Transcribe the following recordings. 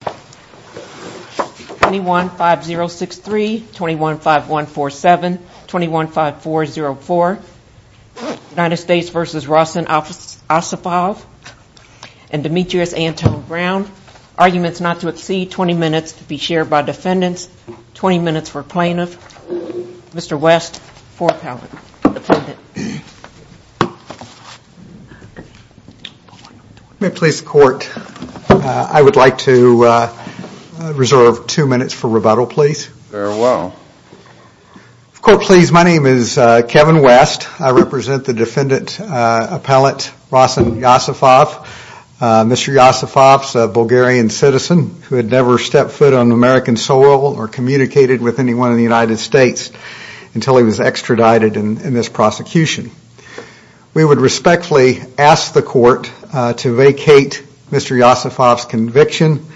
21-5063, 21-5147, 21-5404, United States v. Rossen Iossifov, and Demetrius Anton Brown. Arguments not to exceed 20 minutes to be shared by defendants. 20 minutes for plaintiff. Mr. West, four-palate, defendant. May it please the court, I would like to reserve two minutes for rebuttal, please. Very well. Court, please, my name is Kevin West. I represent the defendant appellate Rossen Iossifov. Mr. Iossifov is a Bulgarian citizen who had never stepped foot on American soil or communicated with anyone in the United States until he was extradited in this prosecution. We would respectfully ask the court to vacate Mr. Iossifov's conviction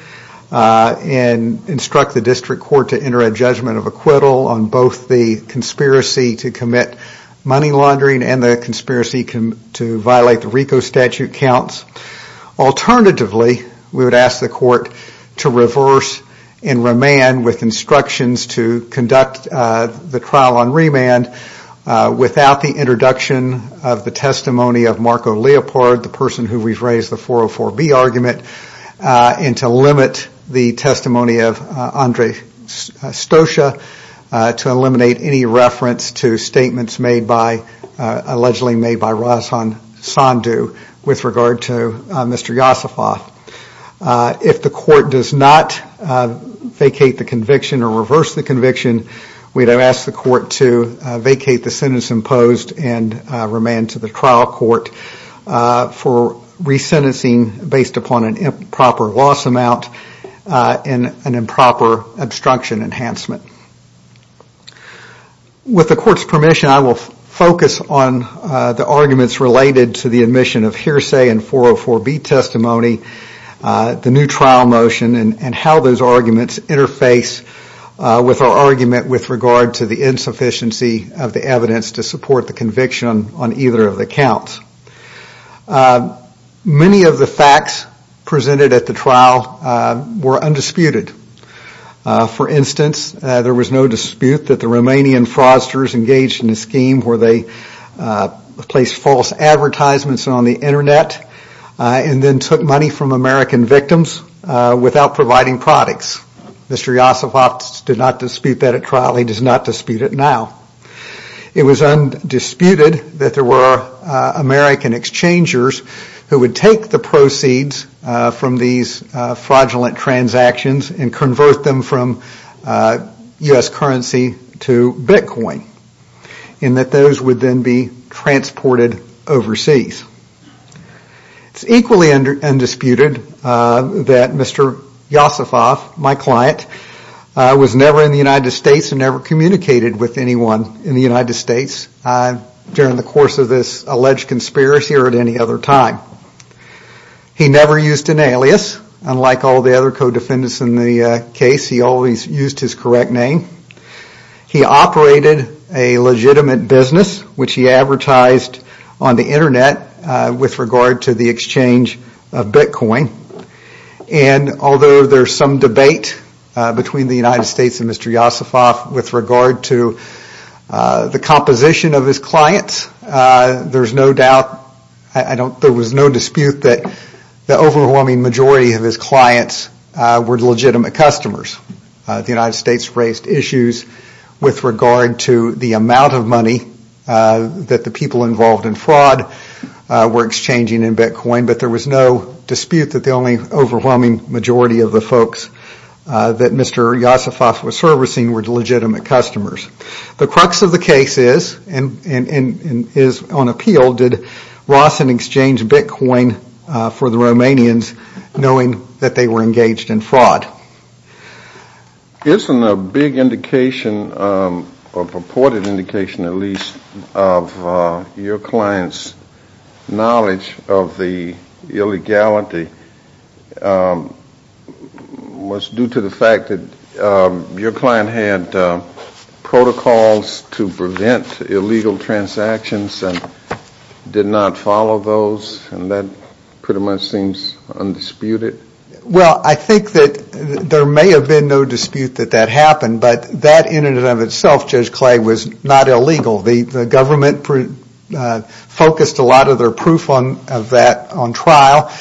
and instruct the district court to enter a judgment of acquittal on both the conspiracy to commit money laundering and the conspiracy to violate the RICO statute counts. Alternatively, we would ask the court to reverse and remand with instructions to conduct the trial on remand without the introduction of the testimony of Marco Leopold, the person who rephrased the 404B argument, and to limit the testimony of Andre Stosia to eliminate any reference to statements made by, with regard to Mr. Iossifov. If the court does not vacate the conviction or reverse the conviction, we would ask the court to vacate the sentence imposed and remand to the trial court for resentencing based upon an improper loss amount and an improper obstruction enhancement. With the court's permission, I will focus on the arguments related to the admission of hearsay and 404B testimony, the new trial motion, and how those arguments interface with our argument with regard to the insufficiency of the evidence to support the conviction on either of the counts. Many of the facts presented at the trial were undisputed. For instance, there was no dispute that the Romanian fraudsters engaged in a scheme where they placed false advertisements on the Internet and then took money from American victims without providing products. Mr. Iossifov did not dispute that at trial. He does not dispute it now. It was undisputed that there were American exchangers who would take the proceeds from these fraudulent transactions and convert them from U.S. currency to Bitcoin and that those would then be transported overseas. It's equally undisputed that Mr. Iossifov, my client, was never in the United States and never communicated with anyone in the United States during the course of this alleged conspiracy or at any other time. He never used an alias. Unlike all the other co-defendants in the case, he always used his correct name. He operated a legitimate business which he advertised on the Internet with regard to the exchange of Bitcoin. Although there is some debate between the United States and Mr. Iossifov with regard to the composition of his clients, there was no dispute that the overwhelming majority of his clients were legitimate customers. The United States raised issues with regard to the amount of money that the people involved in fraud were exchanging in Bitcoin, but there was no dispute that the only overwhelming majority of the folks that Mr. Iossifov was servicing were legitimate customers. The crux of the case is, and is on appeal, did Rossin exchange Bitcoin for the Romanians knowing that they were engaged in fraud? Isn't a big indication, or purported indication at least, of your client's knowledge of the illegality was due to the fact that your client had protocols to prevent illegal transactions and did not follow those? And that pretty much seems undisputed. Well, I think that there may have been no dispute that that happened, but that in and of itself, Judge Clay, was not illegal. The government focused a lot of their proof of that on trial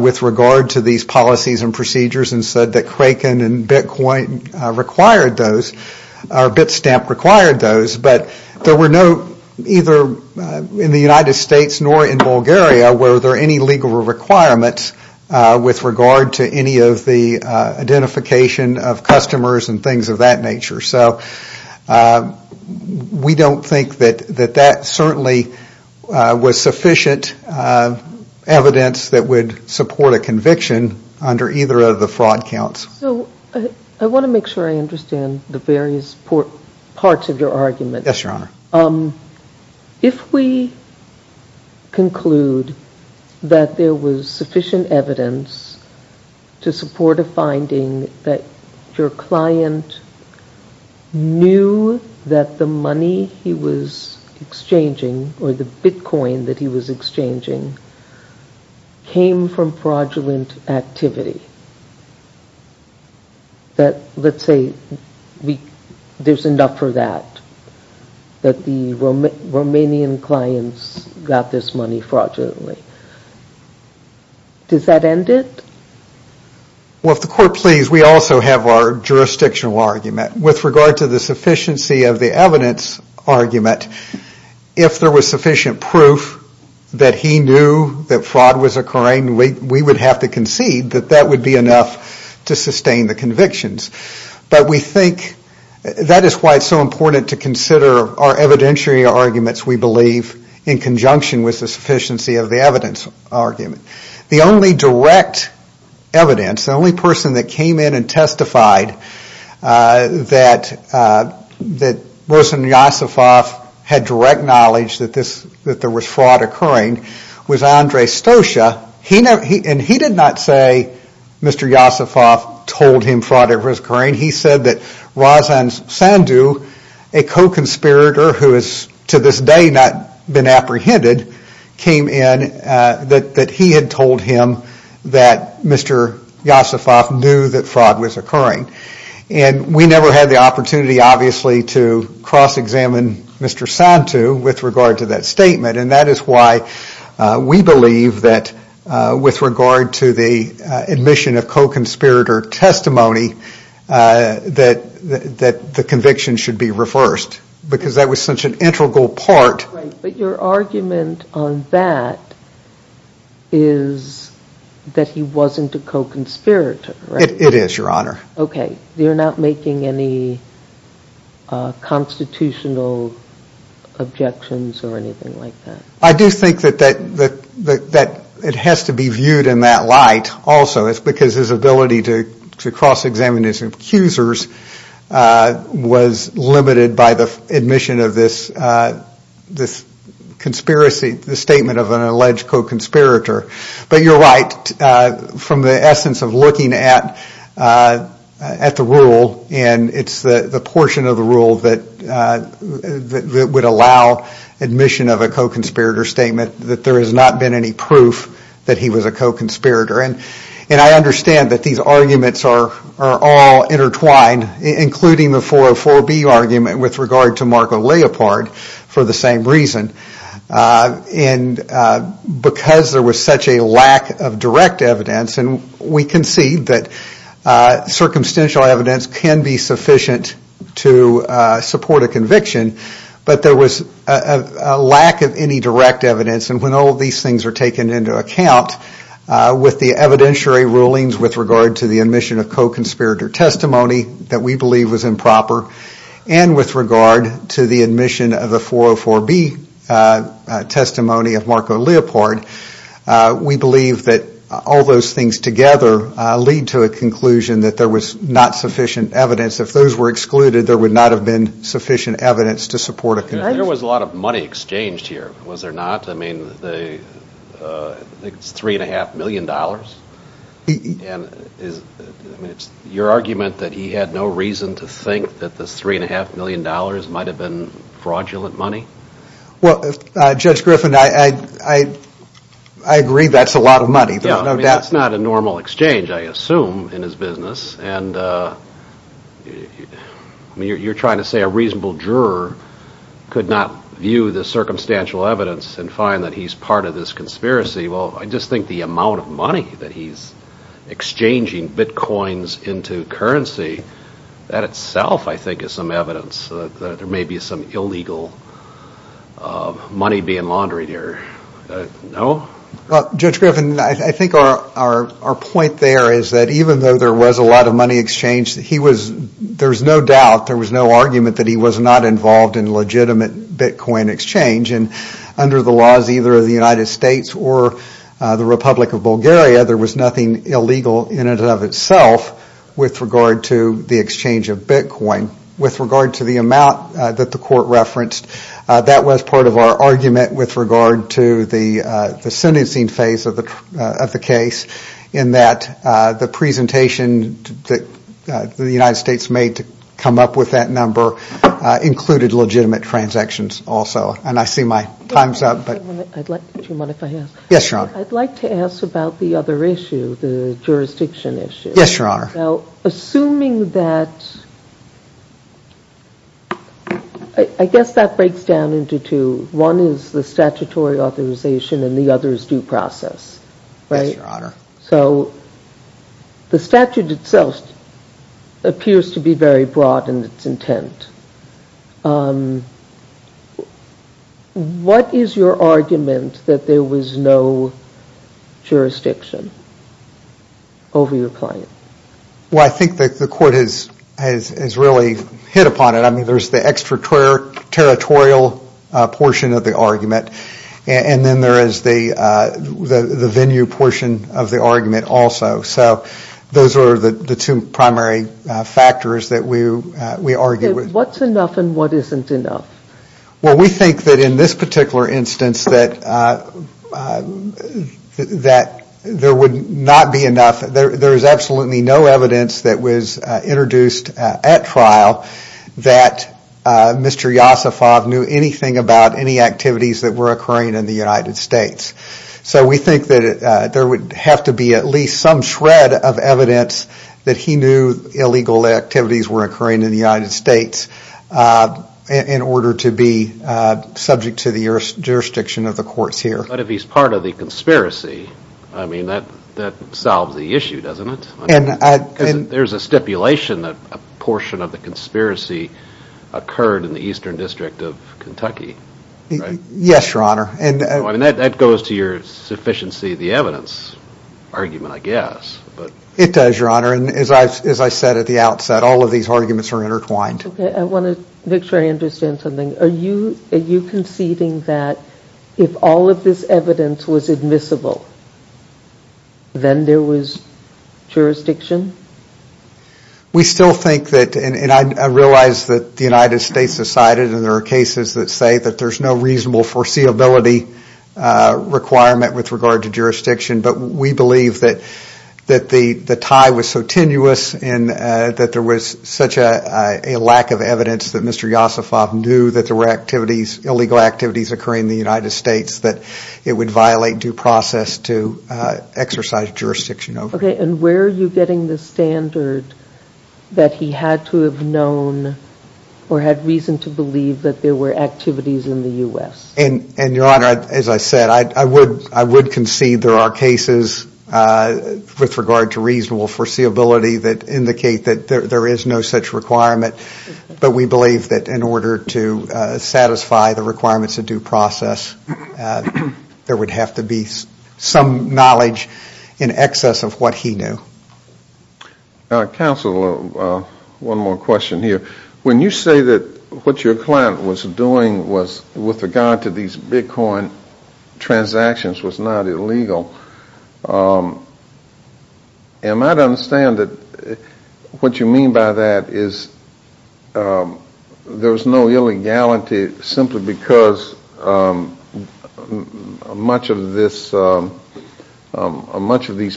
with regard to these policies and procedures and said that Kraken and Bitcoin required those, or Bitstamp required those, but there were no, either in the United States nor in Bulgaria, were there any legal requirements with regard to any of the identification of customers and things of that nature. So we don't think that that certainly was sufficient evidence that would support a conviction under either of the fraud counts. So I want to make sure I understand the various parts of your argument. Yes, Your Honor. If we conclude that there was sufficient evidence to support a finding that your client knew that the money he was exchanging, or the Bitcoin that he was exchanging, came from fraudulent activity, that, let's say, there's enough for that, that the Romanian clients got this money fraudulently, does that end it? Well, if the Court please, we also have our jurisdictional argument. With regard to the sufficiency of the evidence argument, if there was sufficient proof that he knew that fraud was occurring, we would have to concede that that would be enough to sustain the convictions. But we think that is why it's so important to consider our evidentiary arguments, we believe, in conjunction with the sufficiency of the evidence argument. The only direct evidence, the only person that came in and testified that Rosen Yosifov had direct knowledge that there was fraud occurring was Andrei Stosha. And he did not say Mr. Yosifov told him fraud was occurring, he said that Razan Sandu, a co-conspirator who has to this day not been apprehended, came in, that he had told him that Mr. Yosifov knew that fraud was occurring. And we never had the opportunity, obviously, to cross-examine Mr. Sandu with regard to that statement. And that is why we believe that with regard to the admission of co-conspirator testimony, that the conviction should be reversed, because that was such an integral part. Right, but your argument on that is that he wasn't a co-conspirator, right? It is, Your Honor. Okay, you're not making any constitutional objections or anything like that? I do think that it has to be viewed in that light also, because his ability to cross-examine his accusers was limited by the admission of this conspiracy, the statement of an alleged co-conspirator. But you're right, from the essence of looking at the rule, and it's the portion of the rule that would allow admission of a co-conspirator statement, that there has not been any proof that he was a co-conspirator. And I understand that these arguments are all intertwined, including the 404B argument with regard to Marco Leopard, for the same reason. And because there was such a lack of direct evidence, and we concede that circumstantial evidence can be sufficient to support a conviction, but there was a lack of any direct evidence. And when all these things are taken into account, with the evidentiary rulings with regard to the admission of co-conspirator testimony that we believe was improper, and with regard to the admission of the 404B testimony of Marco Leopard, we believe that all those things together lead to a conclusion that there was not sufficient evidence. If those were excluded, there would not have been sufficient evidence to support a conviction. There was a lot of money exchanged here, was there not? I think it's $3.5 million. It's your argument that he had no reason to think that this $3.5 million might have been fraudulent money? Well, Judge Griffin, I agree that's a lot of money. That's not a normal exchange, I assume, in his business. And you're trying to say a reasonable juror could not view the circumstantial evidence and find that he's part of this conspiracy. Well, I just think the amount of money that he's exchanging bitcoins into currency, that itself I think is some evidence that there may be some illegal money being laundered here. No? Well, Judge Griffin, I think our point there is that even though there was a lot of money exchanged, there's no doubt, there was no argument that he was not involved in legitimate bitcoin exchange. And under the laws either of the United States or the Republic of Bulgaria, there was nothing illegal in and of itself with regard to the exchange of bitcoin. With regard to the amount that the court referenced, that was part of our argument with regard to the sentencing phase of the case in that the presentation that the United States made to come up with that number included legitimate transactions also. And I see my time's up. I'd like to ask about the other issue, the jurisdiction issue. Yes, Your Honor. Now, assuming that, I guess that breaks down into two. One is the statutory authorization and the other is due process, right? Yes, Your Honor. So, the statute itself appears to be very broad in its intent. What is your argument that there was no jurisdiction over your client? Well, I think that the court has really hit upon it. I mean, there's the extraterritorial portion of the argument and then there is the venue portion of the argument also. So, those are the two primary factors that we argue with. Okay, what's enough and what isn't enough? Well, we think that in this particular instance that there would not be enough. There is absolutely no evidence that was introduced at trial that Mr. Yosifov knew anything about any activities that were occurring in the United States. So, we think that there would have to be at least some shred of evidence that he knew illegal activities were occurring in the United States in order to be subject to the jurisdiction of the courts here. But if he's part of the conspiracy, I mean, that solves the issue, doesn't it? Because there's a stipulation that a portion of the conspiracy occurred in the Eastern District of Kentucky, right? Yes, Your Honor. I mean, that goes to your sufficiency of the evidence argument, I guess. It does, Your Honor. And as I said at the outset, all of these arguments are intertwined. Okay, I want to make sure I understand something. Are you conceding that if all of this evidence was admissible, then there was jurisdiction? We still think that and I realize that the United States decided and there are cases that say that there's no reasonable foreseeability requirement with regard to jurisdiction, but we believe that the tie was so tenuous and that there was such a lack of evidence that Mr. Yosifov knew that there were illegal activities occurring in the United States that it would violate due process to exercise jurisdiction over it. Okay, and where are you getting the standard that he had to have known or had reason to believe that there were activities in the U.S.? And, Your Honor, as I said, I would concede there are cases with regard to reasonable foreseeability that indicate that there is no such requirement, but we believe that in order to satisfy the requirements of due process, there would have to be some knowledge in excess of what he knew. Counsel, one more question here. When you say that what your client was doing with regard to these Bitcoin transactions was not illegal, am I to understand that what you mean by that is there was no illegality simply because much of these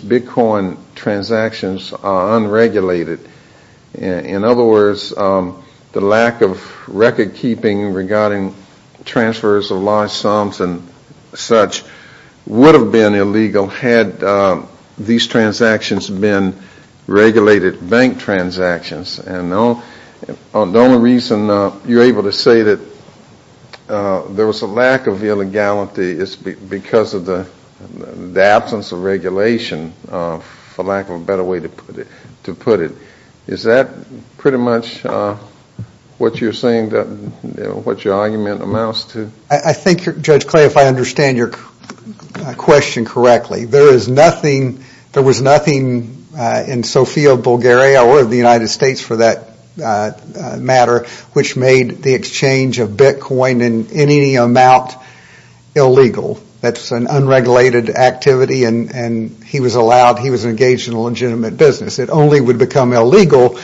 Bitcoin transactions are unregulated? In other words, the lack of recordkeeping regarding transfers of large sums and such would have been illegal had these transactions been regulated bank transactions. And the only reason you're able to say that there was a lack of illegality is because of the absence of regulation, for lack of a better way to put it. Is that pretty much what you're saying, what your argument amounts to? I think, Judge Clay, if I understand your question correctly, there was nothing in Sofia, Bulgaria, or the United States for that matter, which made the exchange of Bitcoin in any amount illegal. That's an unregulated activity and he was engaged in a legitimate business. It only would become illegal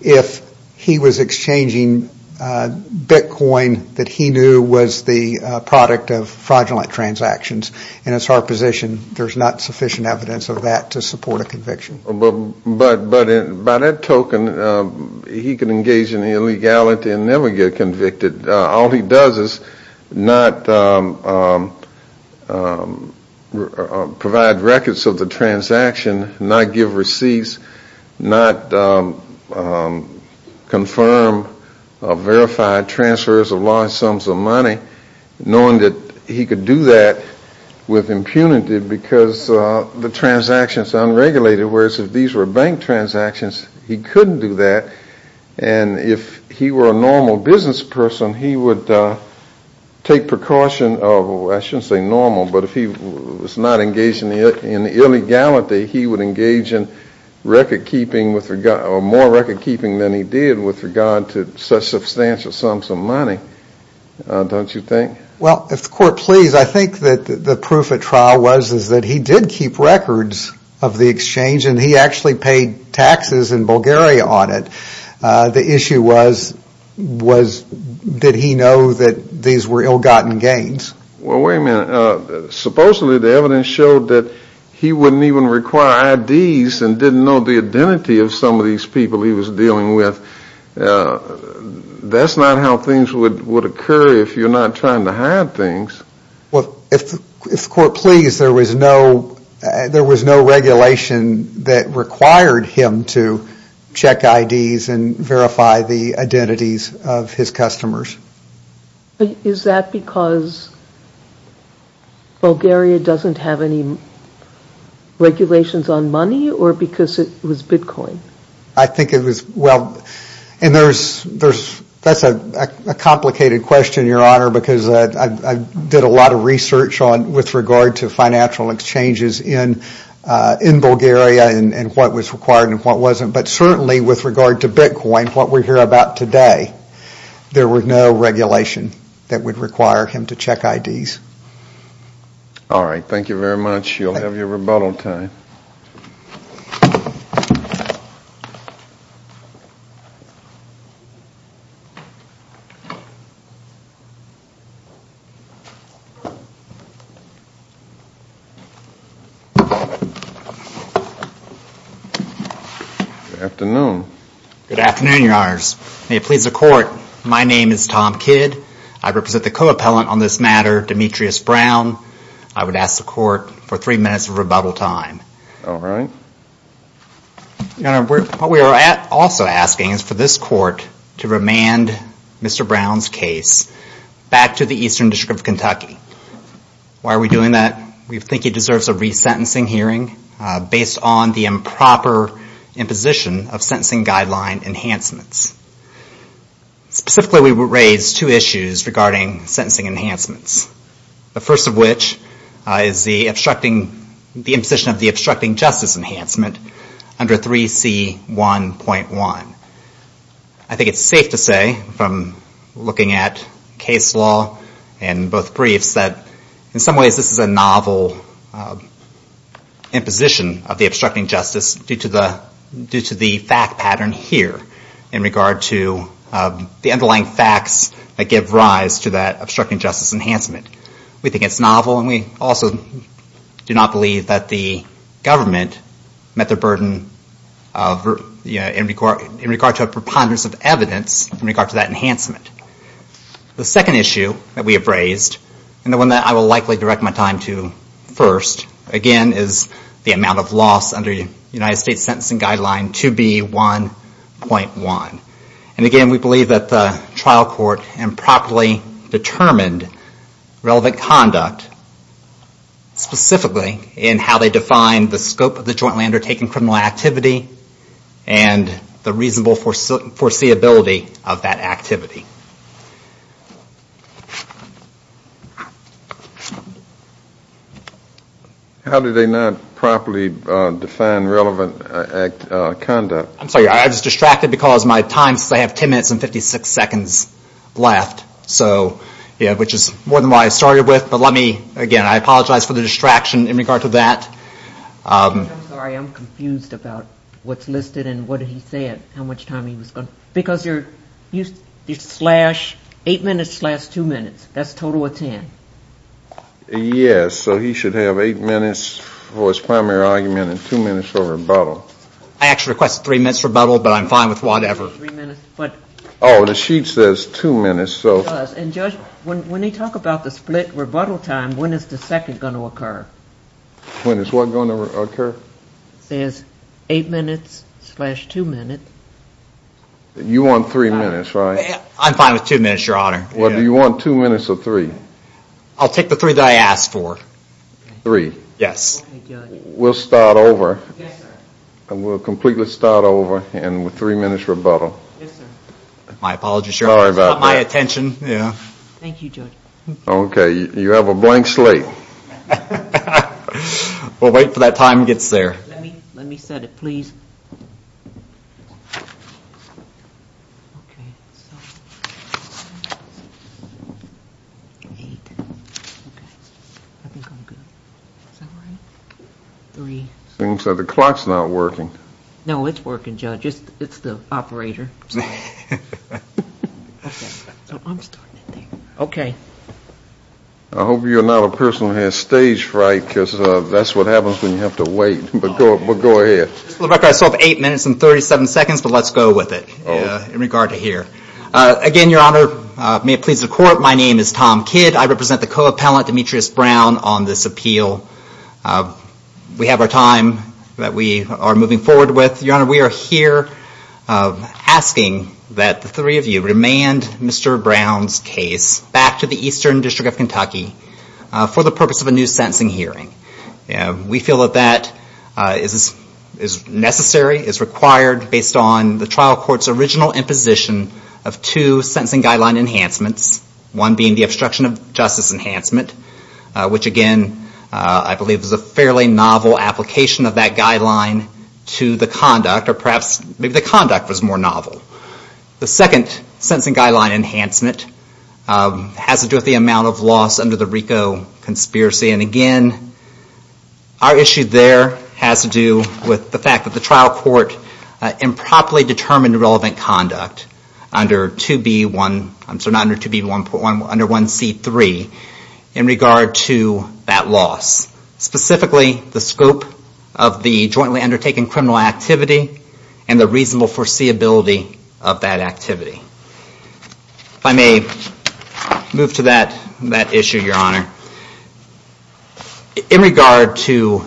if he was exchanging Bitcoin that he knew was the product of fraudulent transactions. And it's our position there's not sufficient evidence of that to support a conviction. But by that token, he could engage in illegality and never get convicted. All he does is not provide records of the transaction, not give receipts, not confirm verified transfers of large sums of money, knowing that he could do that with impunity because the transaction is unregulated, whereas if these were bank transactions, he couldn't do that. And if he were a normal business person, he would take precaution. I shouldn't say normal, but if he was not engaged in illegality, he would engage in record-keeping, or more record-keeping than he did, with regard to such substantial sums of money. Don't you think? Well, if the court please, I think that the proof at trial was that he did keep records of the exchange and he actually paid taxes in Bulgaria on it. The issue was, did he know that these were ill-gotten gains? Well, wait a minute. Supposedly, the evidence showed that he wouldn't even require IDs and didn't know the identity of some of these people he was dealing with. That's not how things would occur if you're not trying to hide things. Well, if the court please, there was no regulation that required him to check IDs and verify the identities of his customers. Is that because Bulgaria doesn't have any regulations on money or because it was Bitcoin? I think it was, well, and that's a complicated question, Your Honor, because I did a lot of research with regard to financial exchanges in Bulgaria and what was required and what wasn't. But certainly with regard to Bitcoin, what we hear about today, there was no regulation that would require him to check IDs. All right, thank you very much. You'll have your rebuttal time. Good afternoon. Good afternoon, Your Honors. May it please the Court, my name is Tom Kidd. I represent the co-appellant on this matter, Demetrius Brown. I would ask the Court for three minutes of rebuttal time. All right. Your Honor, what we are also asking is for this Court to remand Mr. Brown's case back to the Eastern District of Kentucky. Why are we doing that? We think he deserves a resentencing hearing based on the improper imposition of sentencing guideline enhancements. Specifically, we would raise two issues regarding sentencing enhancements, the first of which is the imposition of the obstructing justice enhancement under 3C1.1. I think it's safe to say from looking at case law and both briefs that in some ways this is a novel imposition of the obstructing justice due to the fact pattern here in regard to the underlying facts that give rise to that obstructing justice enhancement. We think it's novel and we also do not believe that the government met their burden in regard to a preponderance of evidence in regard to that enhancement. The second issue that we have raised, and the one that I will likely direct my time to first, again is the amount of loss under the United States Sentencing Guideline 2B1.1. And again, we believe that the trial court improperly determined relevant conduct specifically in how they defined the scope of the jointly undertaken criminal activity and the reasonable foreseeability of that activity. How did they not properly define relevant conduct? I'm sorry, I was distracted because my time, since I have 10 minutes and 56 seconds left, which is more than what I started with, but let me, again, I apologize for the distraction in regard to that. I'm sorry, I'm confused about what's listed and what he said, how much time he was going to, because you slash eight minutes slash two minutes, that's a total of ten. Yes, so he should have eight minutes for his primary argument and two minutes for rebuttal. I actually requested three minutes for rebuttal, but I'm fine with whatever. Oh, the sheet says two minutes. And Judge, when they talk about the split rebuttal time, when is the second going to occur? When is what going to occur? It says eight minutes slash two minutes. You want three minutes, right? I'm fine with two minutes, Your Honor. Well, do you want two minutes or three? I'll take the three that I asked for. Three? Yes. Okay, Judge. We'll start over. Yes, sir. And we'll completely start over and with three minutes rebuttal. Yes, sir. My apologies, Your Honor. Sorry about that. It's not my attention. Thank you, Judge. Okay, you have a blank slate. We'll wait for that time to get there. Let me set it, please. Okay, so one, eight. Okay, I think I'm good. Is that right? Three. So the clock's not working. No, it's working, Judge. It's the operator. Okay, so I'm starting it there. Okay. I hope you're not a person who has stage fright because that's what happens when you have to wait, but go ahead. For the record, I still have eight minutes and 37 seconds, but let's go with it in regard to here. Again, Your Honor, may it please the Court, my name is Tom Kidd. I represent the co-appellant, Demetrius Brown, on this appeal. We have our time that we are moving forward with. Your Honor, we are here asking that the three of you remand Mr. Brown's case back to the Eastern District of Kentucky for the purpose of a new sentencing hearing. We feel that that is necessary, is required, based on the trial court's original imposition of two sentencing guideline enhancements, one being the obstruction of justice enhancement, which again I believe is a fairly novel application of that guideline to the conduct, or perhaps maybe the conduct was more novel. The second sentencing guideline enhancement has to do with the amount of loss under the RICO conspiracy, and again, our issue there has to do with the fact that the trial court improperly determined the relevant conduct under 2B1C3 in regard to that loss, specifically the scope of the jointly undertaken criminal activity and the reasonable foreseeability of that activity. If I may move to that issue, Your Honor. In regard to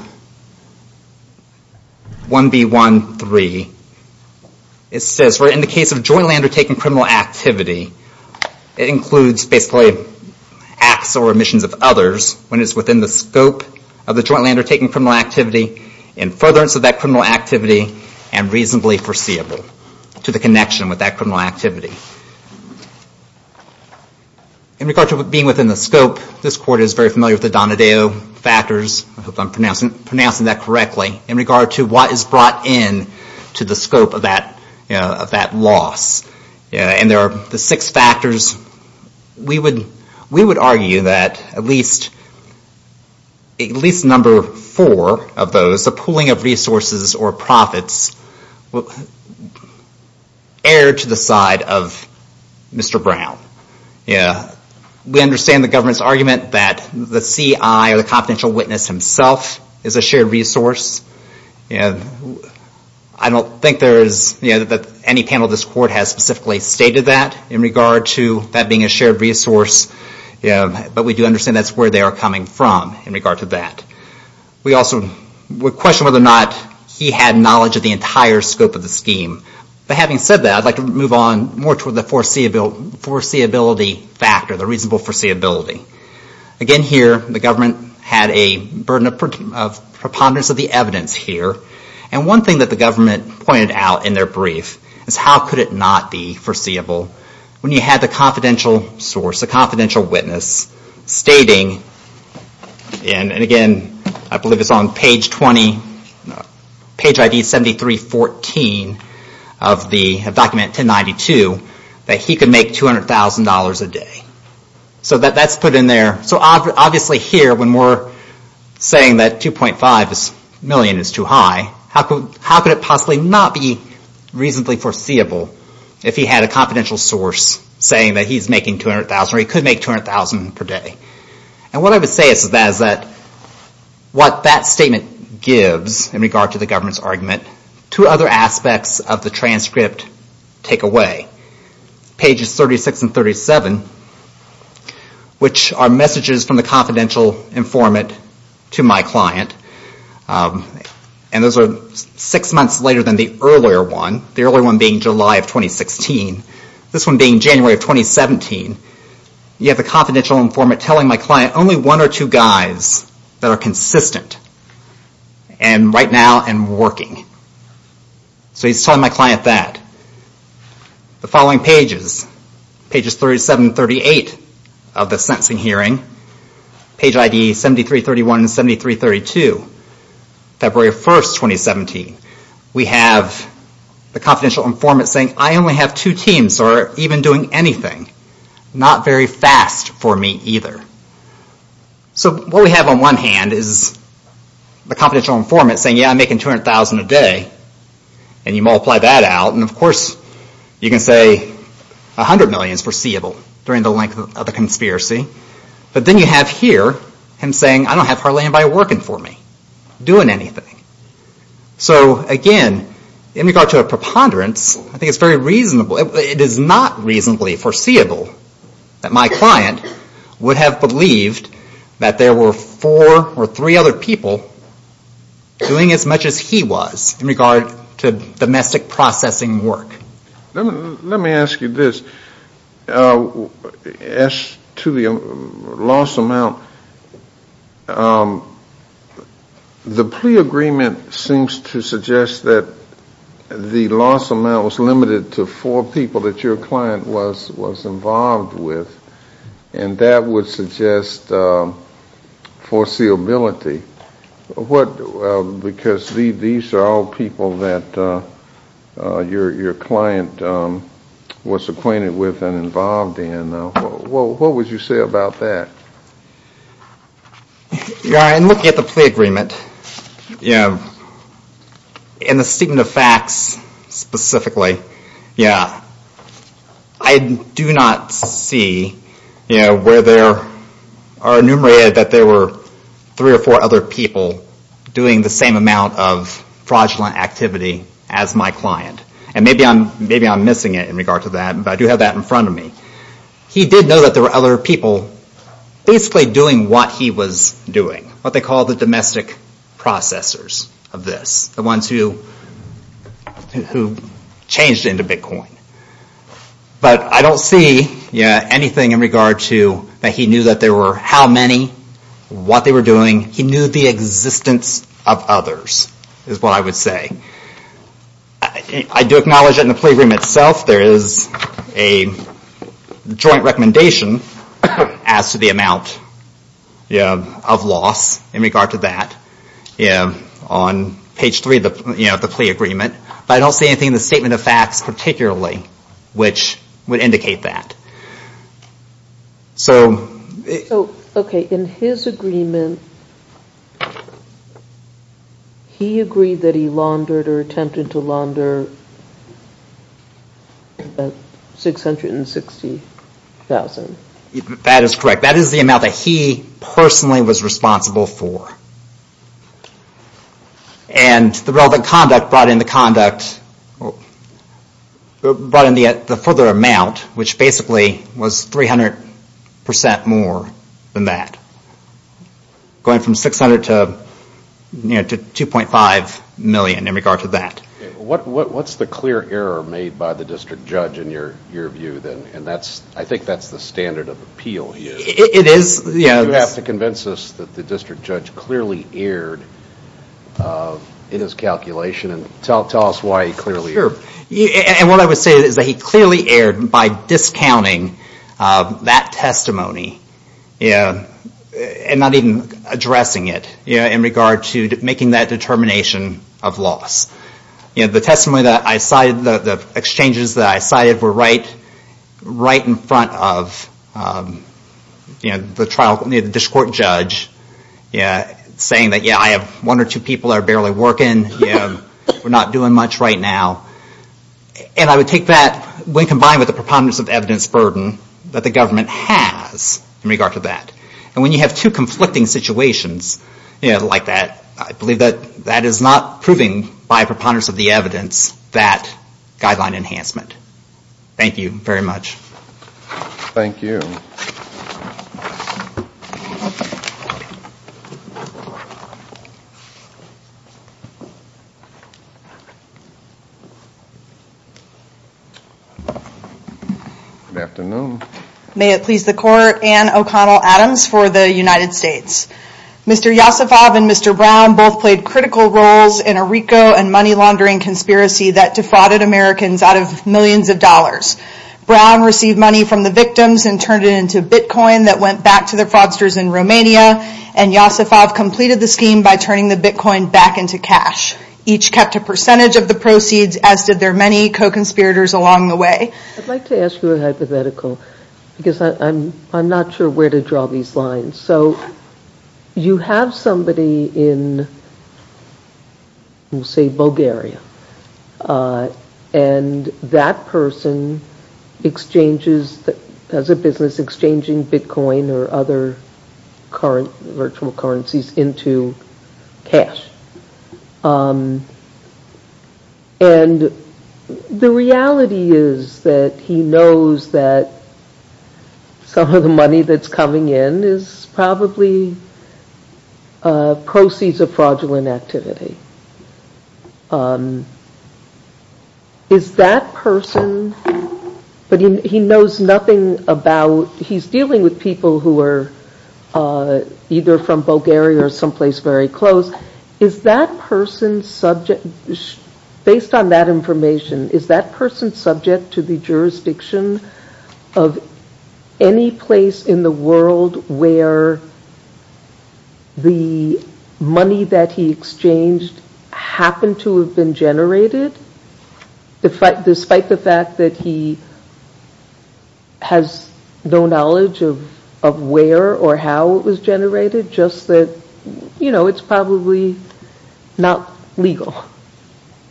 1B1C3, it says, in the case of jointly undertaken criminal activity, it includes basically acts or omissions of others when it's within the scope of the jointly undertaken criminal activity, in furtherance of that criminal activity, and reasonably foreseeable to the connection with that criminal activity. In regard to being within the scope, this Court is very familiar with the Donadeo factors, I hope I'm pronouncing that correctly, in regard to what is brought in to the scope of that loss. And there are the six factors, we would argue that at least number four of those, the pooling of resources or profits, err to the side of Mr. Brown. We understand the government's argument that the CI, or the confidential witness himself, is a shared resource. I don't think that any panel of this Court has specifically stated that, in regard to that being a shared resource, but we do understand that's where they are coming from in regard to that. We also question whether or not he had knowledge of the entire scope of the scheme. But having said that, I'd like to move on more to the foreseeability factor, the reasonable foreseeability. Again here, the government had a burden of preponderance of the evidence here, and one thing that the government pointed out in their brief, is how could it not be foreseeable when you had the confidential source, stating, and again, I believe it's on page ID 7314 of document 1092, that he could make $200,000 a day. So that's put in there. So obviously here, when we're saying that $2.5 million is too high, how could it possibly not be reasonably foreseeable, if he had a confidential source saying that he's making $200,000, or he could make $200,000 per day. And what I would say is that what that statement gives, in regard to the government's argument, two other aspects of the transcript take away. Pages 36 and 37, which are messages from the confidential informant to my client, and those are six months later than the earlier one, the earlier one being July of 2016, this one being January of 2017, you have the confidential informant telling my client, only one or two guys that are consistent, and right now, and working. So he's telling my client that. The following pages, pages 37 and 38 of the sentencing hearing, page ID 7331 and 7332, February 1st, 2017, we have the confidential informant saying, I only have two teams, or even doing anything. Not very fast for me either. So what we have on one hand is the confidential informant saying, yeah, I'm making $200,000 a day, and you multiply that out, and of course you can say $100 million is foreseeable, during the length of the conspiracy, but then you have here him saying, I don't have hardly anybody working for me, doing anything. So, again, in regard to a preponderance, I think it's very reasonable. It is not reasonably foreseeable that my client would have believed that there were four or three other people doing as much as he was in regard to domestic processing work. Let me ask you this. As to the loss amount, the plea agreement seems to suggest that the loss amount was limited to four people that your client was involved with, and that would suggest foreseeability. Because these are all people that your client was acquainted with and involved in. What would you say about that? In looking at the plea agreement, in the statement of facts specifically, I do not see where there are enumerated that there were three or four other people doing the same amount of fraudulent activity as my client. And maybe I'm missing it in regard to that, but I do have that in front of me. He did know that there were other people basically doing what he was doing, what they call the domestic processors of this, the ones who changed into Bitcoin. But I don't see anything in regard to that he knew that there were how many, what they were doing. He knew the existence of others, is what I would say. I do acknowledge that in the plea agreement itself there is a joint recommendation as to the amount of loss in regard to that on page three of the plea agreement. But I don't see anything in the statement of facts particularly which would indicate that. Okay, in his agreement, he agreed that he laundered or attempted to launder about $660,000. That is correct. That is the amount that he personally was responsible for. And the relevant conduct brought in the further amount, which basically was 300% more than that, going from $600,000 to $2.5 million in regard to that. What's the clear error made by the district judge in your view? I think that's the standard of appeal. It is. You have to convince us that the district judge clearly erred in his calculation. Tell us why he clearly erred. What I would say is that he clearly erred by discounting that testimony and not even addressing it in regard to making that determination of loss. The exchanges that I cited were right in front of the district judge saying that I have one or two people that are barely working, we're not doing much right now. And I would take that when combined with the preponderance of evidence burden that the government has in regard to that. And when you have two conflicting situations like that, I believe that that is not proving by preponderance of the evidence that guideline enhancement. Thank you very much. Thank you. Good afternoon. May it please the Court, Anne O'Connell Adams for the United States. Mr. Yosifov and Mr. Brown both played critical roles in a RICO and money laundering conspiracy that defrauded Americans out of millions of dollars. Brown received money from the victims and turned it into Bitcoin that went back to the fraudsters in Romania, and Yosifov completed the scheme by turning the Bitcoin back into cash. Each kept a percentage of the proceeds as did their many co-conspirators along the way. I'd like to ask you a hypothetical because I'm not sure where to draw these lines. So you have somebody in say Bulgaria and that person has a business exchanging Bitcoin or other virtual currencies into cash. And the reality is that he knows that some of the money that's coming in is probably proceeds of fraudulent activity. Is that person, but he knows nothing about, so he's dealing with people who are either from Bulgaria or someplace very close. Is that person subject, based on that information, is that person subject to the jurisdiction of any place in the world where the money that he exchanged happened to have been generated? Despite the fact that he has no knowledge of where or how it was generated, just that it's probably not legal.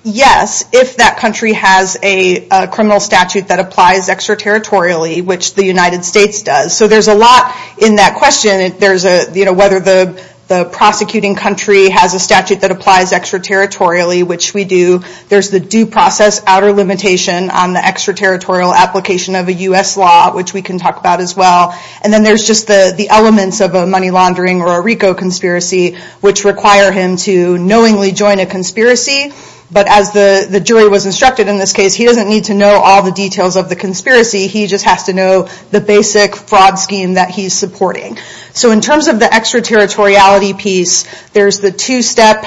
Yes, if that country has a criminal statute that applies extraterritorially, which the United States does. So there's a lot in that question. Whether the prosecuting country has a statute that applies extraterritorially, which we do. There's the due process outer limitation on the extraterritorial application of a U.S. law, which we can talk about as well. And then there's just the elements of a money laundering or a RICO conspiracy, which require him to knowingly join a conspiracy. But as the jury was instructed in this case, he doesn't need to know all the details of the conspiracy. He just has to know the basic fraud scheme that he's supporting. So in terms of the extraterritoriality piece, there's the two-step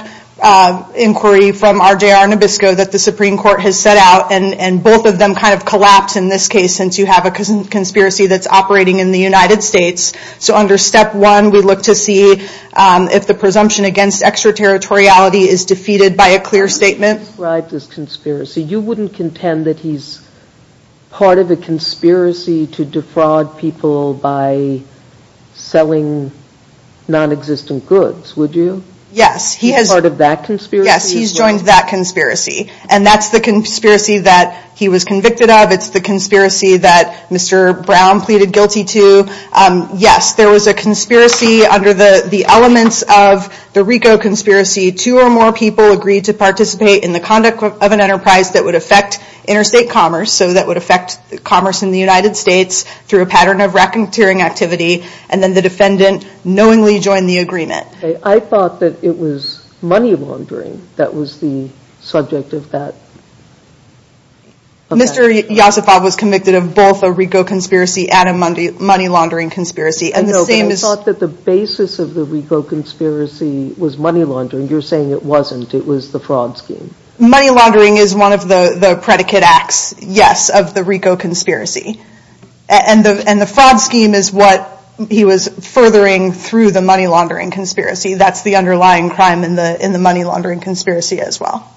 inquiry from RJR Nabisco that the Supreme Court has set out. And both of them kind of collapse in this case since you have a conspiracy that's operating in the United States. So under step one, we look to see if the presumption against extraterritoriality is defeated by a clear statement. You wouldn't contend that he's part of a conspiracy to defraud people by selling non-existent goods, would you? Yes. He's part of that conspiracy? Yes, he's joined that conspiracy. And that's the conspiracy that he was convicted of. It's the conspiracy that Mr. Brown pleaded guilty to. Yes, there was a conspiracy under the elements of the RICO conspiracy. Two or more people agreed to participate in the conduct of an enterprise that would affect interstate commerce, so that would affect commerce in the United States through a pattern of racketeering activity. And then the defendant knowingly joined the agreement. I thought that it was money laundering that was the subject of that. Mr. Yosifov was convicted of both a RICO conspiracy and a money laundering conspiracy. And the same is... I thought that the basis of the RICO conspiracy was money laundering. You're saying it wasn't. It was the fraud scheme. Money laundering is one of the predicate acts, yes, of the RICO conspiracy. And the fraud scheme is what he was furthering through the money laundering conspiracy. That's the underlying crime in the money laundering conspiracy as well.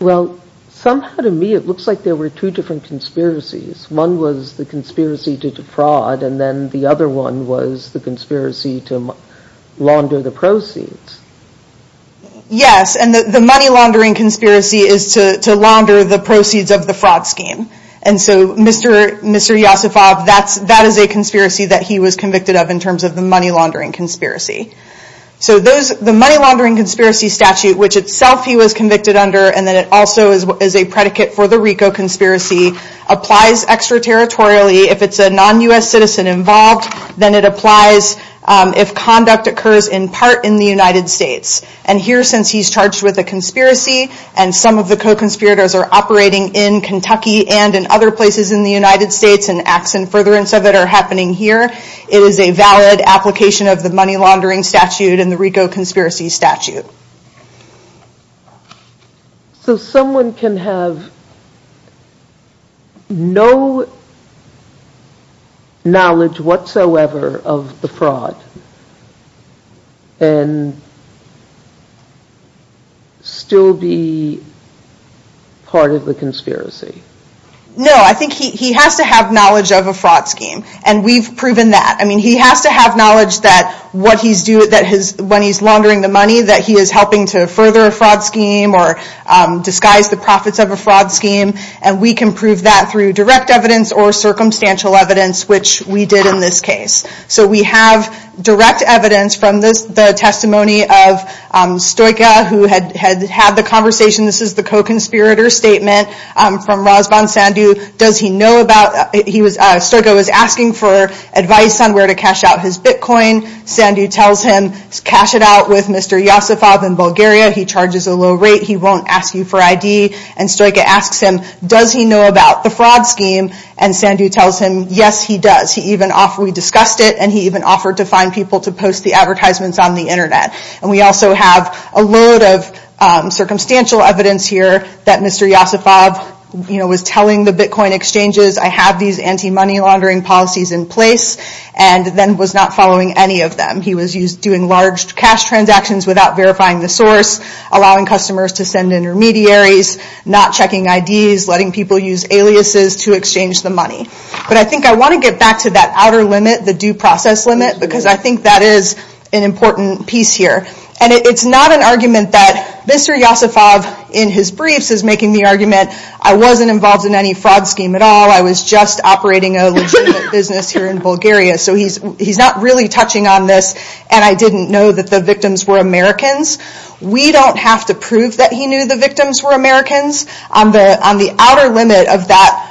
Well, somehow to me it looks like there were two different conspiracies. One was the conspiracy to defraud, and then the other one was the conspiracy to launder the proceeds. Yes, and the money laundering conspiracy is to launder the proceeds of the fraud scheme. And so Mr. Yosifov, that is a conspiracy that he was convicted of in terms of the money laundering conspiracy. So the money laundering conspiracy statute, which itself he was convicted under, and then it also is a predicate for the RICO conspiracy, applies extraterritorially. If it's a non-U.S. citizen involved, then it applies if conduct occurs in part in the United States. And here, since he's charged with a conspiracy, and some of the co-conspirators are operating in Kentucky and in other places in the United States, and acts in furtherance of it are happening here, it is a valid application of the money laundering statute and the RICO conspiracy statute. So someone can have no knowledge whatsoever of the fraud and still be part of the conspiracy? No, I think he has to have knowledge of a fraud scheme. And we've proven that. I mean, he has to have knowledge that when he's laundering the money, that he is helping to further a fraud scheme or disguise the profits of a fraud scheme. And we can prove that through direct evidence or circumstantial evidence, which we did in this case. So we have direct evidence from the testimony of Stojka, who had had the conversation, this is the co-conspirator statement from Razvan Sandu. Stojka was asking for advice on where to cash out his Bitcoin. Sandu tells him, cash it out with Mr. Yosifov in Bulgaria. He charges a low rate. He won't ask you for ID. And Stojka asks him, does he know about the fraud scheme? And Sandu tells him, yes, he does. We discussed it, and he even offered to find people to post the advertisements on the Internet. And we also have a load of circumstantial evidence here that Mr. Yosifov was telling the Bitcoin exchanges, I have these anti-money laundering policies in place, and then was not following any of them. He was doing large cash transactions without verifying the source, allowing customers to send intermediaries, not checking IDs, letting people use aliases to exchange the money. But I think I want to get back to that outer limit, the due process limit, because I think that is an important piece here. And it's not an argument that Mr. Yosifov, in his briefs, is making the argument, I wasn't involved in any fraud scheme at all, I was just operating a legitimate business here in Bulgaria, so he's not really touching on this, and I didn't know that the victims were Americans. We don't have to prove that he knew the victims were Americans. On the outer limit of that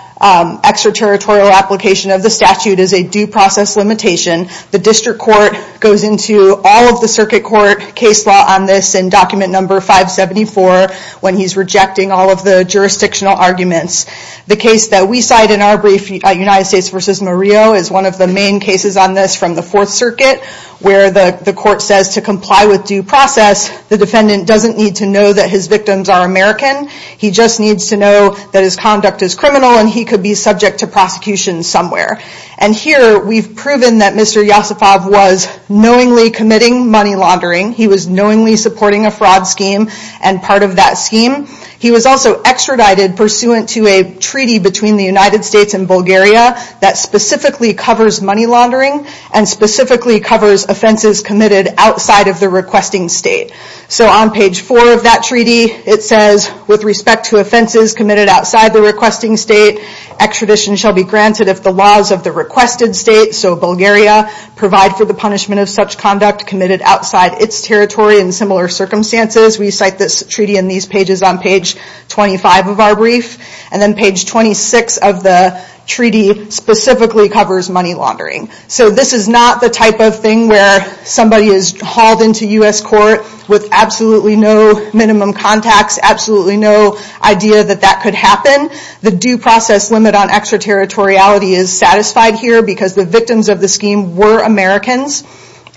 extraterritorial application of the statute is a due process limitation. The district court goes into all of the circuit court case law on this in document number 574, when he's rejecting all of the jurisdictional arguments. The case that we cite in our brief, United States v. Murillo, is one of the main cases on this from the Fourth Circuit, where the court says to comply with due process, the defendant doesn't need to know that his victims are American, he just needs to know that his conduct is criminal and he could be subject to prosecution somewhere. And here, we've proven that Mr. Yosifov was knowingly committing money laundering, he was knowingly supporting a fraud scheme and part of that scheme. He was also extradited pursuant to a treaty between the United States and Bulgaria that specifically covers money laundering and specifically covers offenses committed outside of the requesting state. So on page 4 of that treaty, it says, with respect to offenses committed outside the requesting state, extradition shall be granted if the laws of the requested state, so Bulgaria, provide for the punishment of such conduct committed outside its territory in similar circumstances. We cite this treaty in these pages on page 25 of our brief. And then page 26 of the treaty specifically covers money laundering. So this is not the type of thing where somebody is hauled into U.S. court with absolutely no minimum contacts, absolutely no idea that that could happen. The due process limit on extraterritoriality is satisfied here because the victims of the scheme were Americans.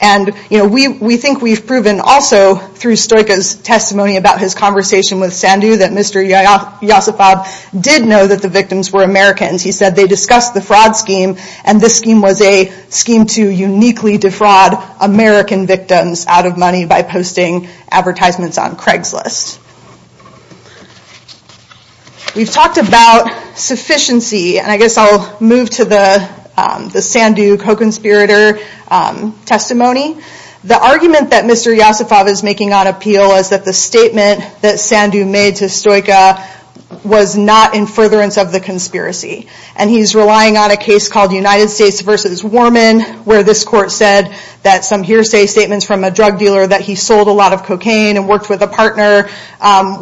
And we think we've proven also through Stojka's testimony about his conversation with Sandu that Mr. Yosifov did know that the victims were Americans. He said they discussed the fraud scheme and this scheme was a scheme to uniquely defraud American victims out of money by posting advertisements on Craigslist. We've talked about sufficiency, and I guess I'll move to the Sandu co-conspirator testimony. The argument that Mr. Yosifov is making on appeal is that the statement that Sandu made to Stojka was not in furtherance of the conspiracy. And he's relying on a case called United States versus Warman where this court said that some hearsay statements from a drug dealer that he sold a lot of cocaine and worked with a partner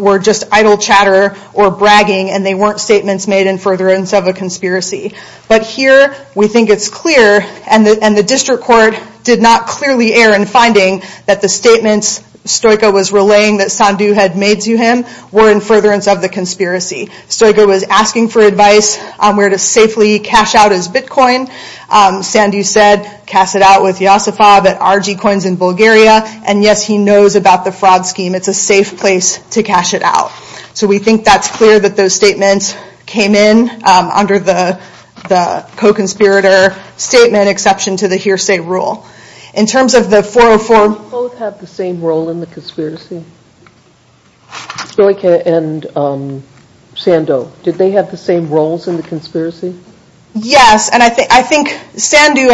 were just idle chatter or bragging and they weren't statements made in furtherance of a conspiracy. But here we think it's clear and the district court did not clearly err in finding that the statements Stojka was relaying that Sandu had made to him were in furtherance of the conspiracy. Stojka was asking for advice on where to safely cash out his Bitcoin. Sandu said, cast it out with Yosifov at RG Coins in Bulgaria and yes, he knows about the fraud scheme. It's a safe place to cash it out. So we think that's clear that those statements came in under the co-conspirator statement, exception to the hearsay rule. In terms of the 404... Did they both have the same role in the conspiracy? Stojka and Sandu. Did they have the same roles in the conspiracy? Yes, and I think Sandu,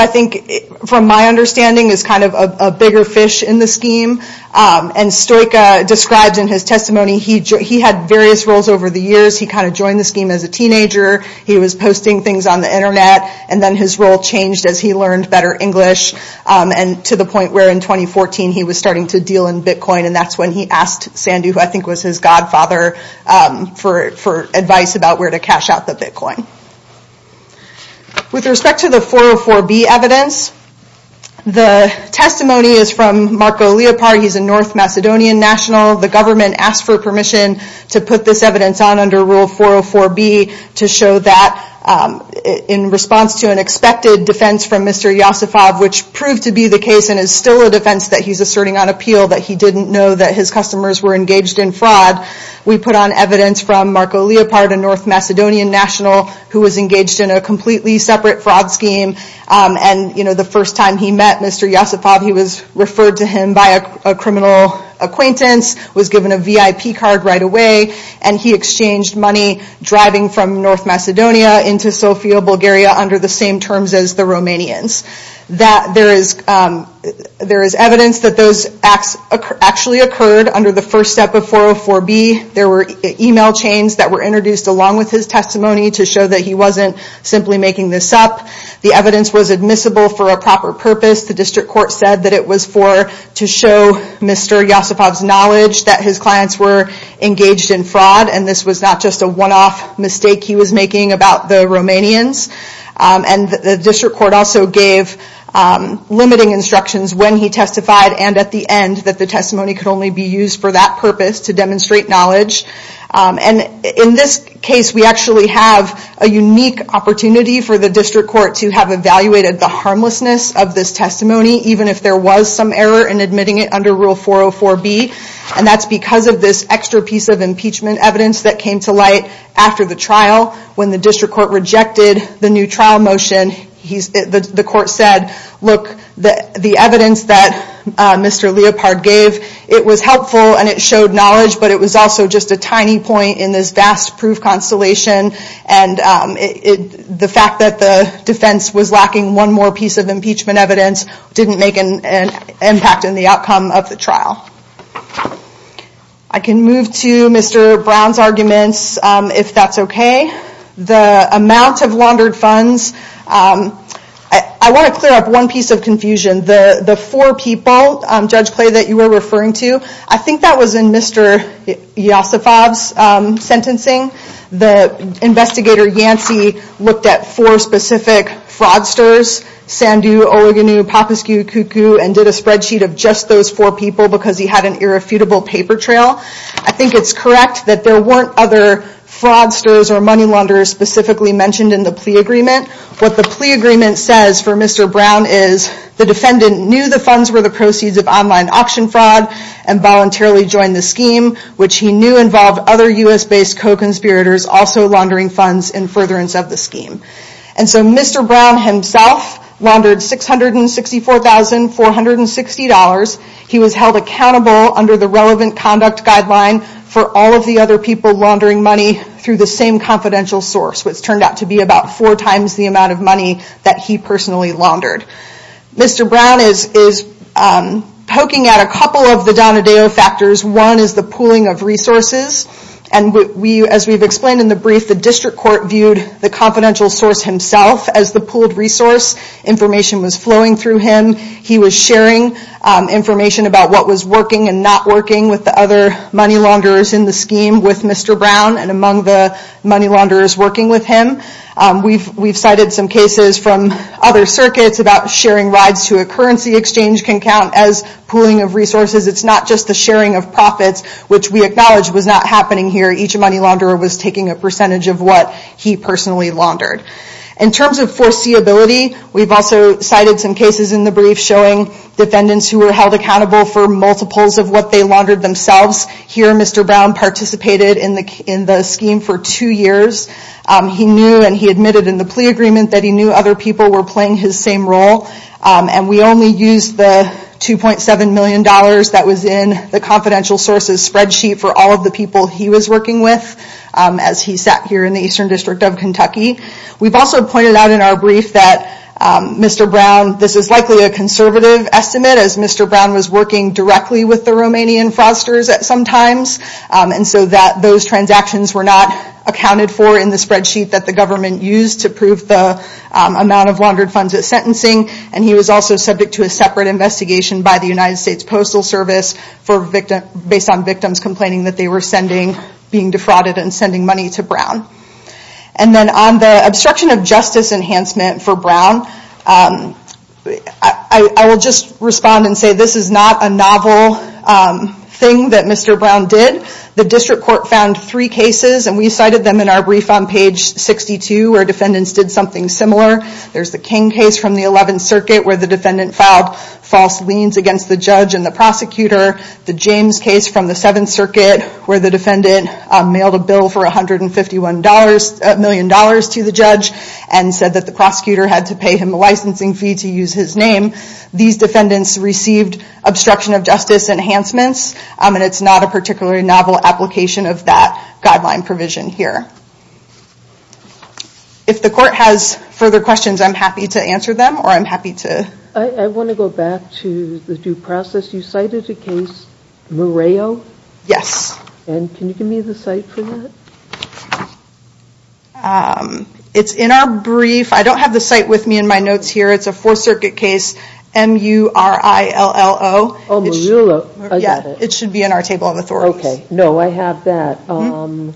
from my understanding, is kind of a bigger fish in the scheme. And Stojka describes in his testimony he had various roles over the years. He kind of joined the scheme as a teenager. He was posting things on the internet and then his role changed as he learned better English and to the point where in 2014 he was starting to deal in Bitcoin and that's when he asked Sandu, who I think was his godfather, for advice about where to cash out the Bitcoin. With respect to the 404B evidence, the testimony is from Marko Leopard. He's a North Macedonian national. The government asked for permission to put this evidence on under Rule 404B to show that in response to an expected defense from Mr. Josipov, which proved to be the case and is still a defense that he's asserting on appeal, that he didn't know that his customers were engaged in fraud, we put on evidence from Marko Leopard, a North Macedonian national, who was engaged in a completely separate fraud scheme. The first time he met Mr. Josipov, he was referred to him by a criminal acquaintance, was given a VIP card right away, and he exchanged money driving from North Macedonia into Sofia, Bulgaria under the same terms as the Romanians. There is evidence that those acts actually occurred under the first step of 404B. There were email chains that were introduced along with his testimony to show that he wasn't simply making this up. The evidence was admissible for a proper purpose. The district court said that it was to show Mr. Josipov's knowledge that his clients were engaged in fraud, and this was not just a one-off mistake he was making about the Romanians. The district court also gave limiting instructions when he testified and at the end that the testimony could only be used for that purpose to demonstrate knowledge. In this case, we actually have a unique opportunity for the district court to have evaluated the harmlessness of this testimony even if there was some error in admitting it under Rule 404B, and that's because of this extra piece of impeachment evidence that came to light after the trial when the district court rejected the new trial motion. The court said, look, the evidence that Mr. Leopard gave, it was helpful and it showed knowledge, but it was also just a tiny point in this vast proof constellation and the fact that the defense was lacking one more piece of impeachment evidence didn't make an impact in the outcome of the trial. I can move to Mr. Brown's arguments, if that's okay. The amount of laundered funds, I want to clear up one piece of confusion. The four people, Judge Clay, that you were referring to, I think that was in Mr. Josipov's sentencing. The investigator Yancey looked at four specific fraudsters, Sandu, Ogunnu, Papasku, Kuku, and did a spreadsheet of just those four people because he had an irrefutable paper trail. I think it's correct that there weren't other fraudsters or money launderers specifically mentioned in the plea agreement. What the plea agreement says for Mr. Brown is the defendant knew the funds were the proceeds of online auction fraud and voluntarily joined the scheme, which he knew involved other U.S.-based co-conspirators also laundering funds in furtherance of the scheme. Mr. Brown himself laundered $664,460. He was held accountable under the relevant conduct guideline for all of the other people laundering money through the same confidential source, which turned out to be about four times the amount of money that he personally laundered. Mr. Brown is poking at a couple of the Donadeo factors. One is the pooling of resources. As we've explained in the brief, the district court viewed the confidential source himself as the pooled resource. Information was flowing through him. He was sharing information about what was working and not working with the other money launderers in the scheme with Mr. Brown and among the money launderers working with him. We've cited some cases from other circuits about sharing rides to a currency exchange can count as pooling of resources. It's not just the sharing of profits, which we acknowledge was not happening here. Each money launderer was taking a percentage of what he personally laundered. In terms of foreseeability, we've also cited some cases in the brief showing defendants who were held accountable for multiples of what they laundered themselves. Here, Mr. Brown participated in the scheme for two years. He knew and he admitted in the plea agreement that he knew other people were playing his same role. We only used the $2.7 million that was in the confidential sources spreadsheet for all of the people he was working with as he sat here in the Eastern District of Kentucky. We've also pointed out in our brief that Mr. Brown, this is likely a conservative estimate as Mr. Brown was working directly with the Romanian fraudsters at some times. Those transactions were not accounted for in the spreadsheet that the government used to prove the amount of laundered funds at sentencing. He was also subject to a separate investigation by the United States Postal Service based on victims complaining that they were being defrauded and sending money to Brown. On the obstruction of justice enhancement for Brown, I will just respond and say this is not a novel thing that Mr. Brown did. The District Court found three cases and we cited them in our brief on page 62 where defendants did something similar. There's the King case from the 11th Circuit where the defendant filed false liens against the judge and the prosecutor. The James case from the 7th Circuit where the defendant mailed a bill for $151 million to the judge and said that the prosecutor had to pay him a licensing fee to use his name. These defendants received obstruction of justice enhancements and it's not a particularly novel application of that guideline provision here. If the court has further questions, I'm happy to answer them or I'm happy to... I want to go back to the due process. You cited a case, Murillo. Yes. Can you give me the site for that? It's in our brief. I don't have the site with me in my notes here. It's a Fourth Circuit case, M-U-R-I-L-L-O. Oh, Murillo. I got it. It should be in our table of authorities. No, I have that. Um...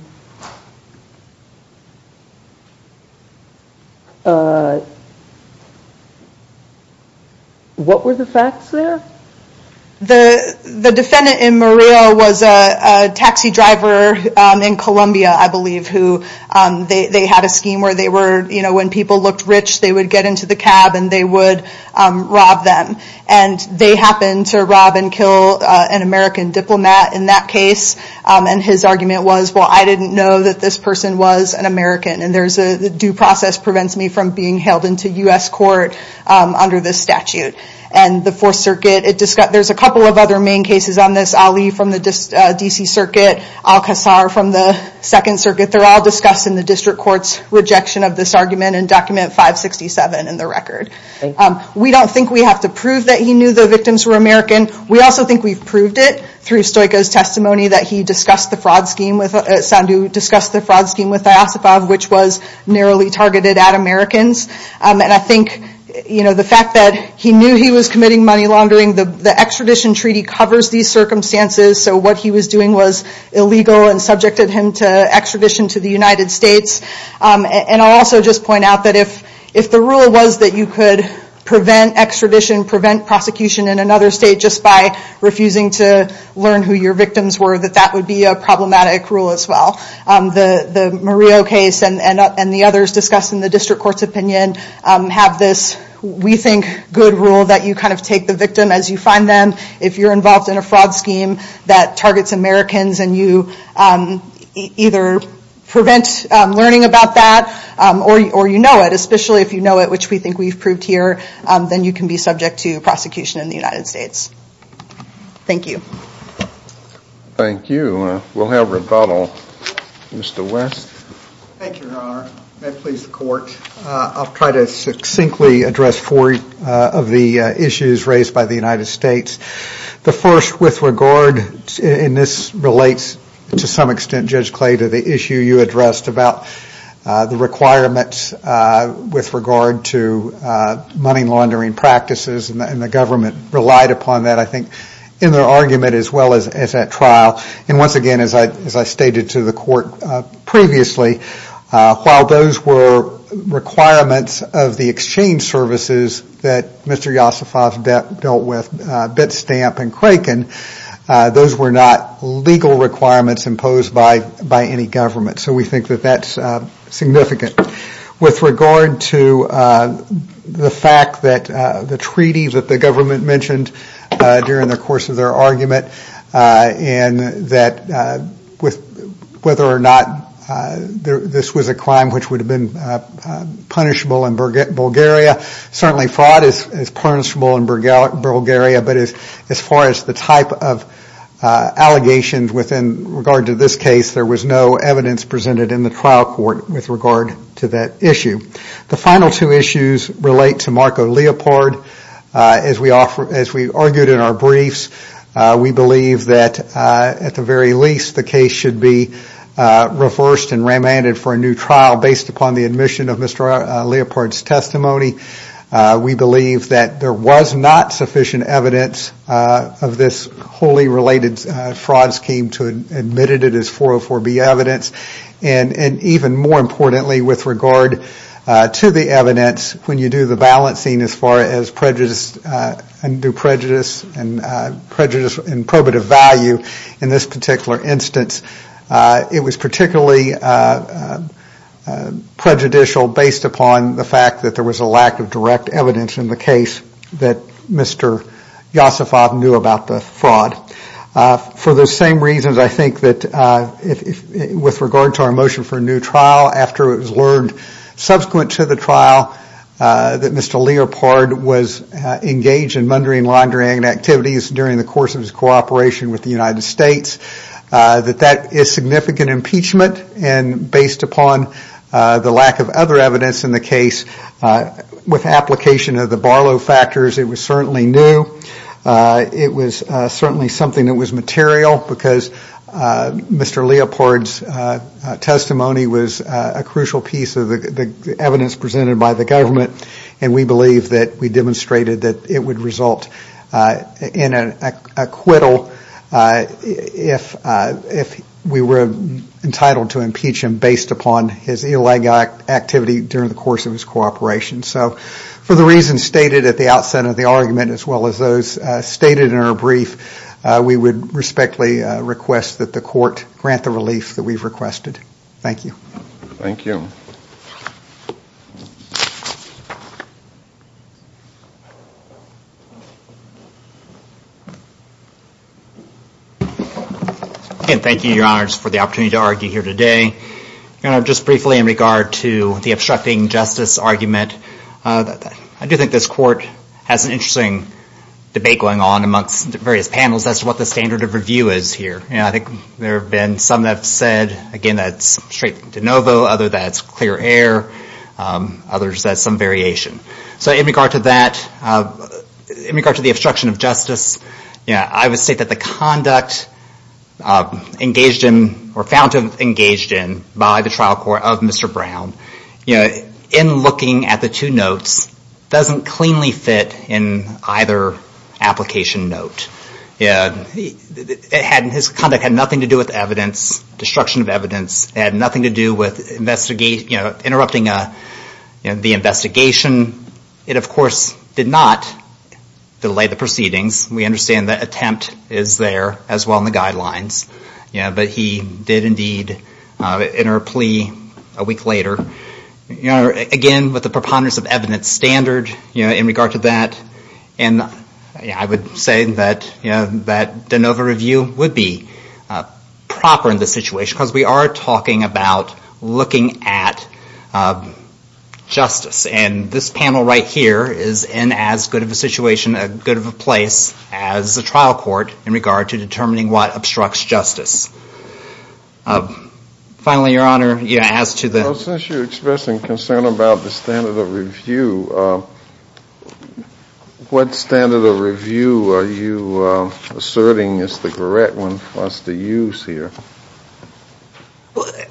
What were the facts there? The defendant in Murillo was a taxi driver in Colombia, I believe, who... They had a scheme where they were... You know, when people looked rich, they would get into the cab and they would rob them. And they happened to rob and kill an American diplomat in that case. And his argument was, well, I didn't know that this person was an American. And there's a due process prevents me from being held into U.S. court under this statute. And the Fourth Circuit... There's a couple of other main cases on this. Ali from the D.C. Circuit, Al-Qassar from the Second Circuit. They're all discussed in the district court's rejection of this argument in Document 567 in the record. We don't think we have to prove that he knew the victims were American. We also think we've proved it through Stoica's testimony that he discussed the fraud scheme with... Sandu discussed the fraud scheme with Diasifov, which was narrowly targeted at Americans. And I think, you know, the fact that he knew he was committing money laundering, the extradition treaty covers these circumstances, so what he was doing was illegal and subjected him to extradition to the United States. And I'll also just point out that if the rule was that you could prevent extradition, prevent prosecution in another state, just by refusing to learn who your victims were, that that would be a problematic rule as well. The Murillo case and the others discussed in the district court's opinion have this, we think, good rule that you kind of take the victim as you find them. If you're involved in a fraud scheme that targets Americans and you either prevent learning about that or you know it, especially if you know it, which we think we've proved here, then you can be subject to prosecution in the United States. Thank you. Thank you. We'll have rebuttal. Mr. West. Thank you, Your Honor. May it please the Court. I'll try to succinctly address four of the issues raised by the United States. The first with regard, and this relates to some extent, Judge Clay, to the issue you addressed about the requirements with regard to money laundering practices and the government relied upon that, I think, in their argument as well as at trial. And once again, as I stated to the Court previously, while those were requirements of the exchange services that Mr. Yosifov dealt with, Bitstamp and Kraken, those were not legal requirements imposed by any government. So we think that that's significant. With regard to the fact that the treaty that the government mentioned during the course of their argument and that whether or not this was a crime which would have been punishable in Bulgaria, certainly fraud is punishable in Bulgaria, but as far as the type of allegations within regard to this case, there was no evidence presented in the trial court with regard to that issue. The final two issues relate to Marco Leopold. As we argued in our briefs, we believe that at the very least, the case should be reversed and remanded for a new trial based upon the admission of Mr. Leopold's testimony. We believe that there was not sufficient evidence of this wholly related fraud scheme to admit it as 404B evidence. And even more importantly, with regard to the evidence, when you do the balancing as far as prejudice and probative value in this particular instance, it was particularly prejudicial based upon the fact that there was a lack of direct evidence in the case that Mr. Yosifov knew about the fraud. For those same reasons, I think that with regard to our motion for a new trial, after it was learned subsequent to the trial that Mr. Leopold was engaged in mundane laundering activities during the course of his cooperation with the United States, that that is significant impeachment and based upon the lack of other evidence in the case with application of the Barlow factors. It was certainly new. It was certainly something that was material because Mr. Leopold's testimony was a crucial piece of the evidence presented by the government and we believe that we demonstrated that it would result in an acquittal if we were entitled to impeach him based upon his illegal activity during the course of his cooperation. So for the reasons stated at the outset of the argument as well as those stated in our brief, we would respectfully request that the court grant the relief that we've requested. Thank you. Thank you. Thank you. Thank you, Your Honors, for the opportunity to argue here today. Just briefly in regard to the obstructing justice argument, I do think this court has an interesting debate going on amongst the various panels as to what the standard of review is here. I think there have been some that have said, again, that it's straight de novo, others that it's clear air, others that it's some variation. So in regard to that, in regard to the obstruction of justice, I would say that the conduct engaged in or found to have engaged in by the trial court of Mr. Brown, in looking at the two notes, doesn't cleanly fit in either application note. His conduct had nothing to do with evidence, destruction of evidence, had nothing to do with interrupting the investigation. It, of course, did not delay the proceedings. We understand that attempt is there as well in the guidelines, but he did indeed enter a plea a week later. Again, with the preponderance of evidence standard in regard to that, I would say that de novo review would be proper in this situation because we are talking about looking at justice, and this panel right here is in as good of a situation, a good of a place as the trial court in regard to determining what obstructs justice. Finally, Your Honor, as to the... Well, since you're expressing concern about the standard of review, what standard of review are you asserting is the correct one for us to use here?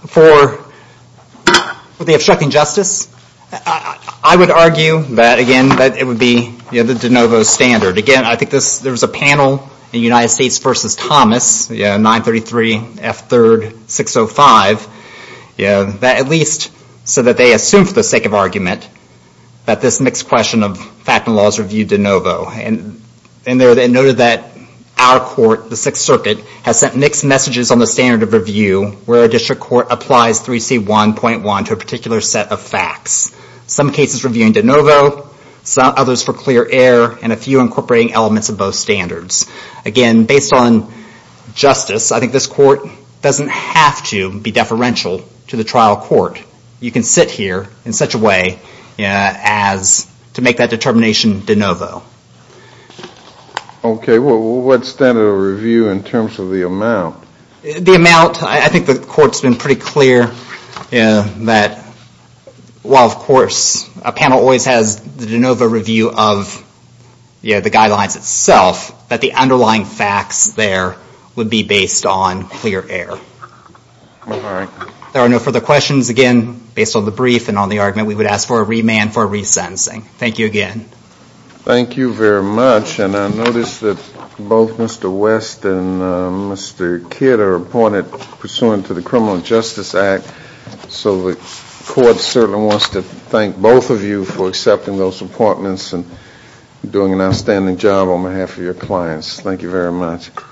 For the obstructing justice, I would argue that, again, that it would be the de novo standard. Again, I think there was a panel in United States v. Thomas, 933 F. 3rd 605, that at least said that they assumed for the sake of argument that this mixed question of fact and laws reviewed de novo, and they noted that our court, the Sixth Circuit, has sent mixed messages on the standard of review where a district court applies 3C1.1 to a particular set of facts, some cases reviewing de novo, others for clear air, and a few incorporating elements of both standards. Again, based on justice, I think this court doesn't have to be deferential to the trial court. You can sit here in such a way as to make that determination de novo. Okay, well, what standard of review in terms of the amount? The amount, I think the court's been pretty clear that while, of course, a panel always has the de novo review of the guidelines itself, that the underlying facts there would be based on clear air. All right. There are no further questions. Again, based on the brief and on the argument, we would ask for a remand for resentencing. Thank you again. Thank you very much, and I notice that both Mr. West and Mr. Kidd are appointed pursuant to the Criminal Justice Act, so the court certainly wants to thank both of you for accepting those appointments and doing an outstanding job on behalf of your clients. Thank you very much.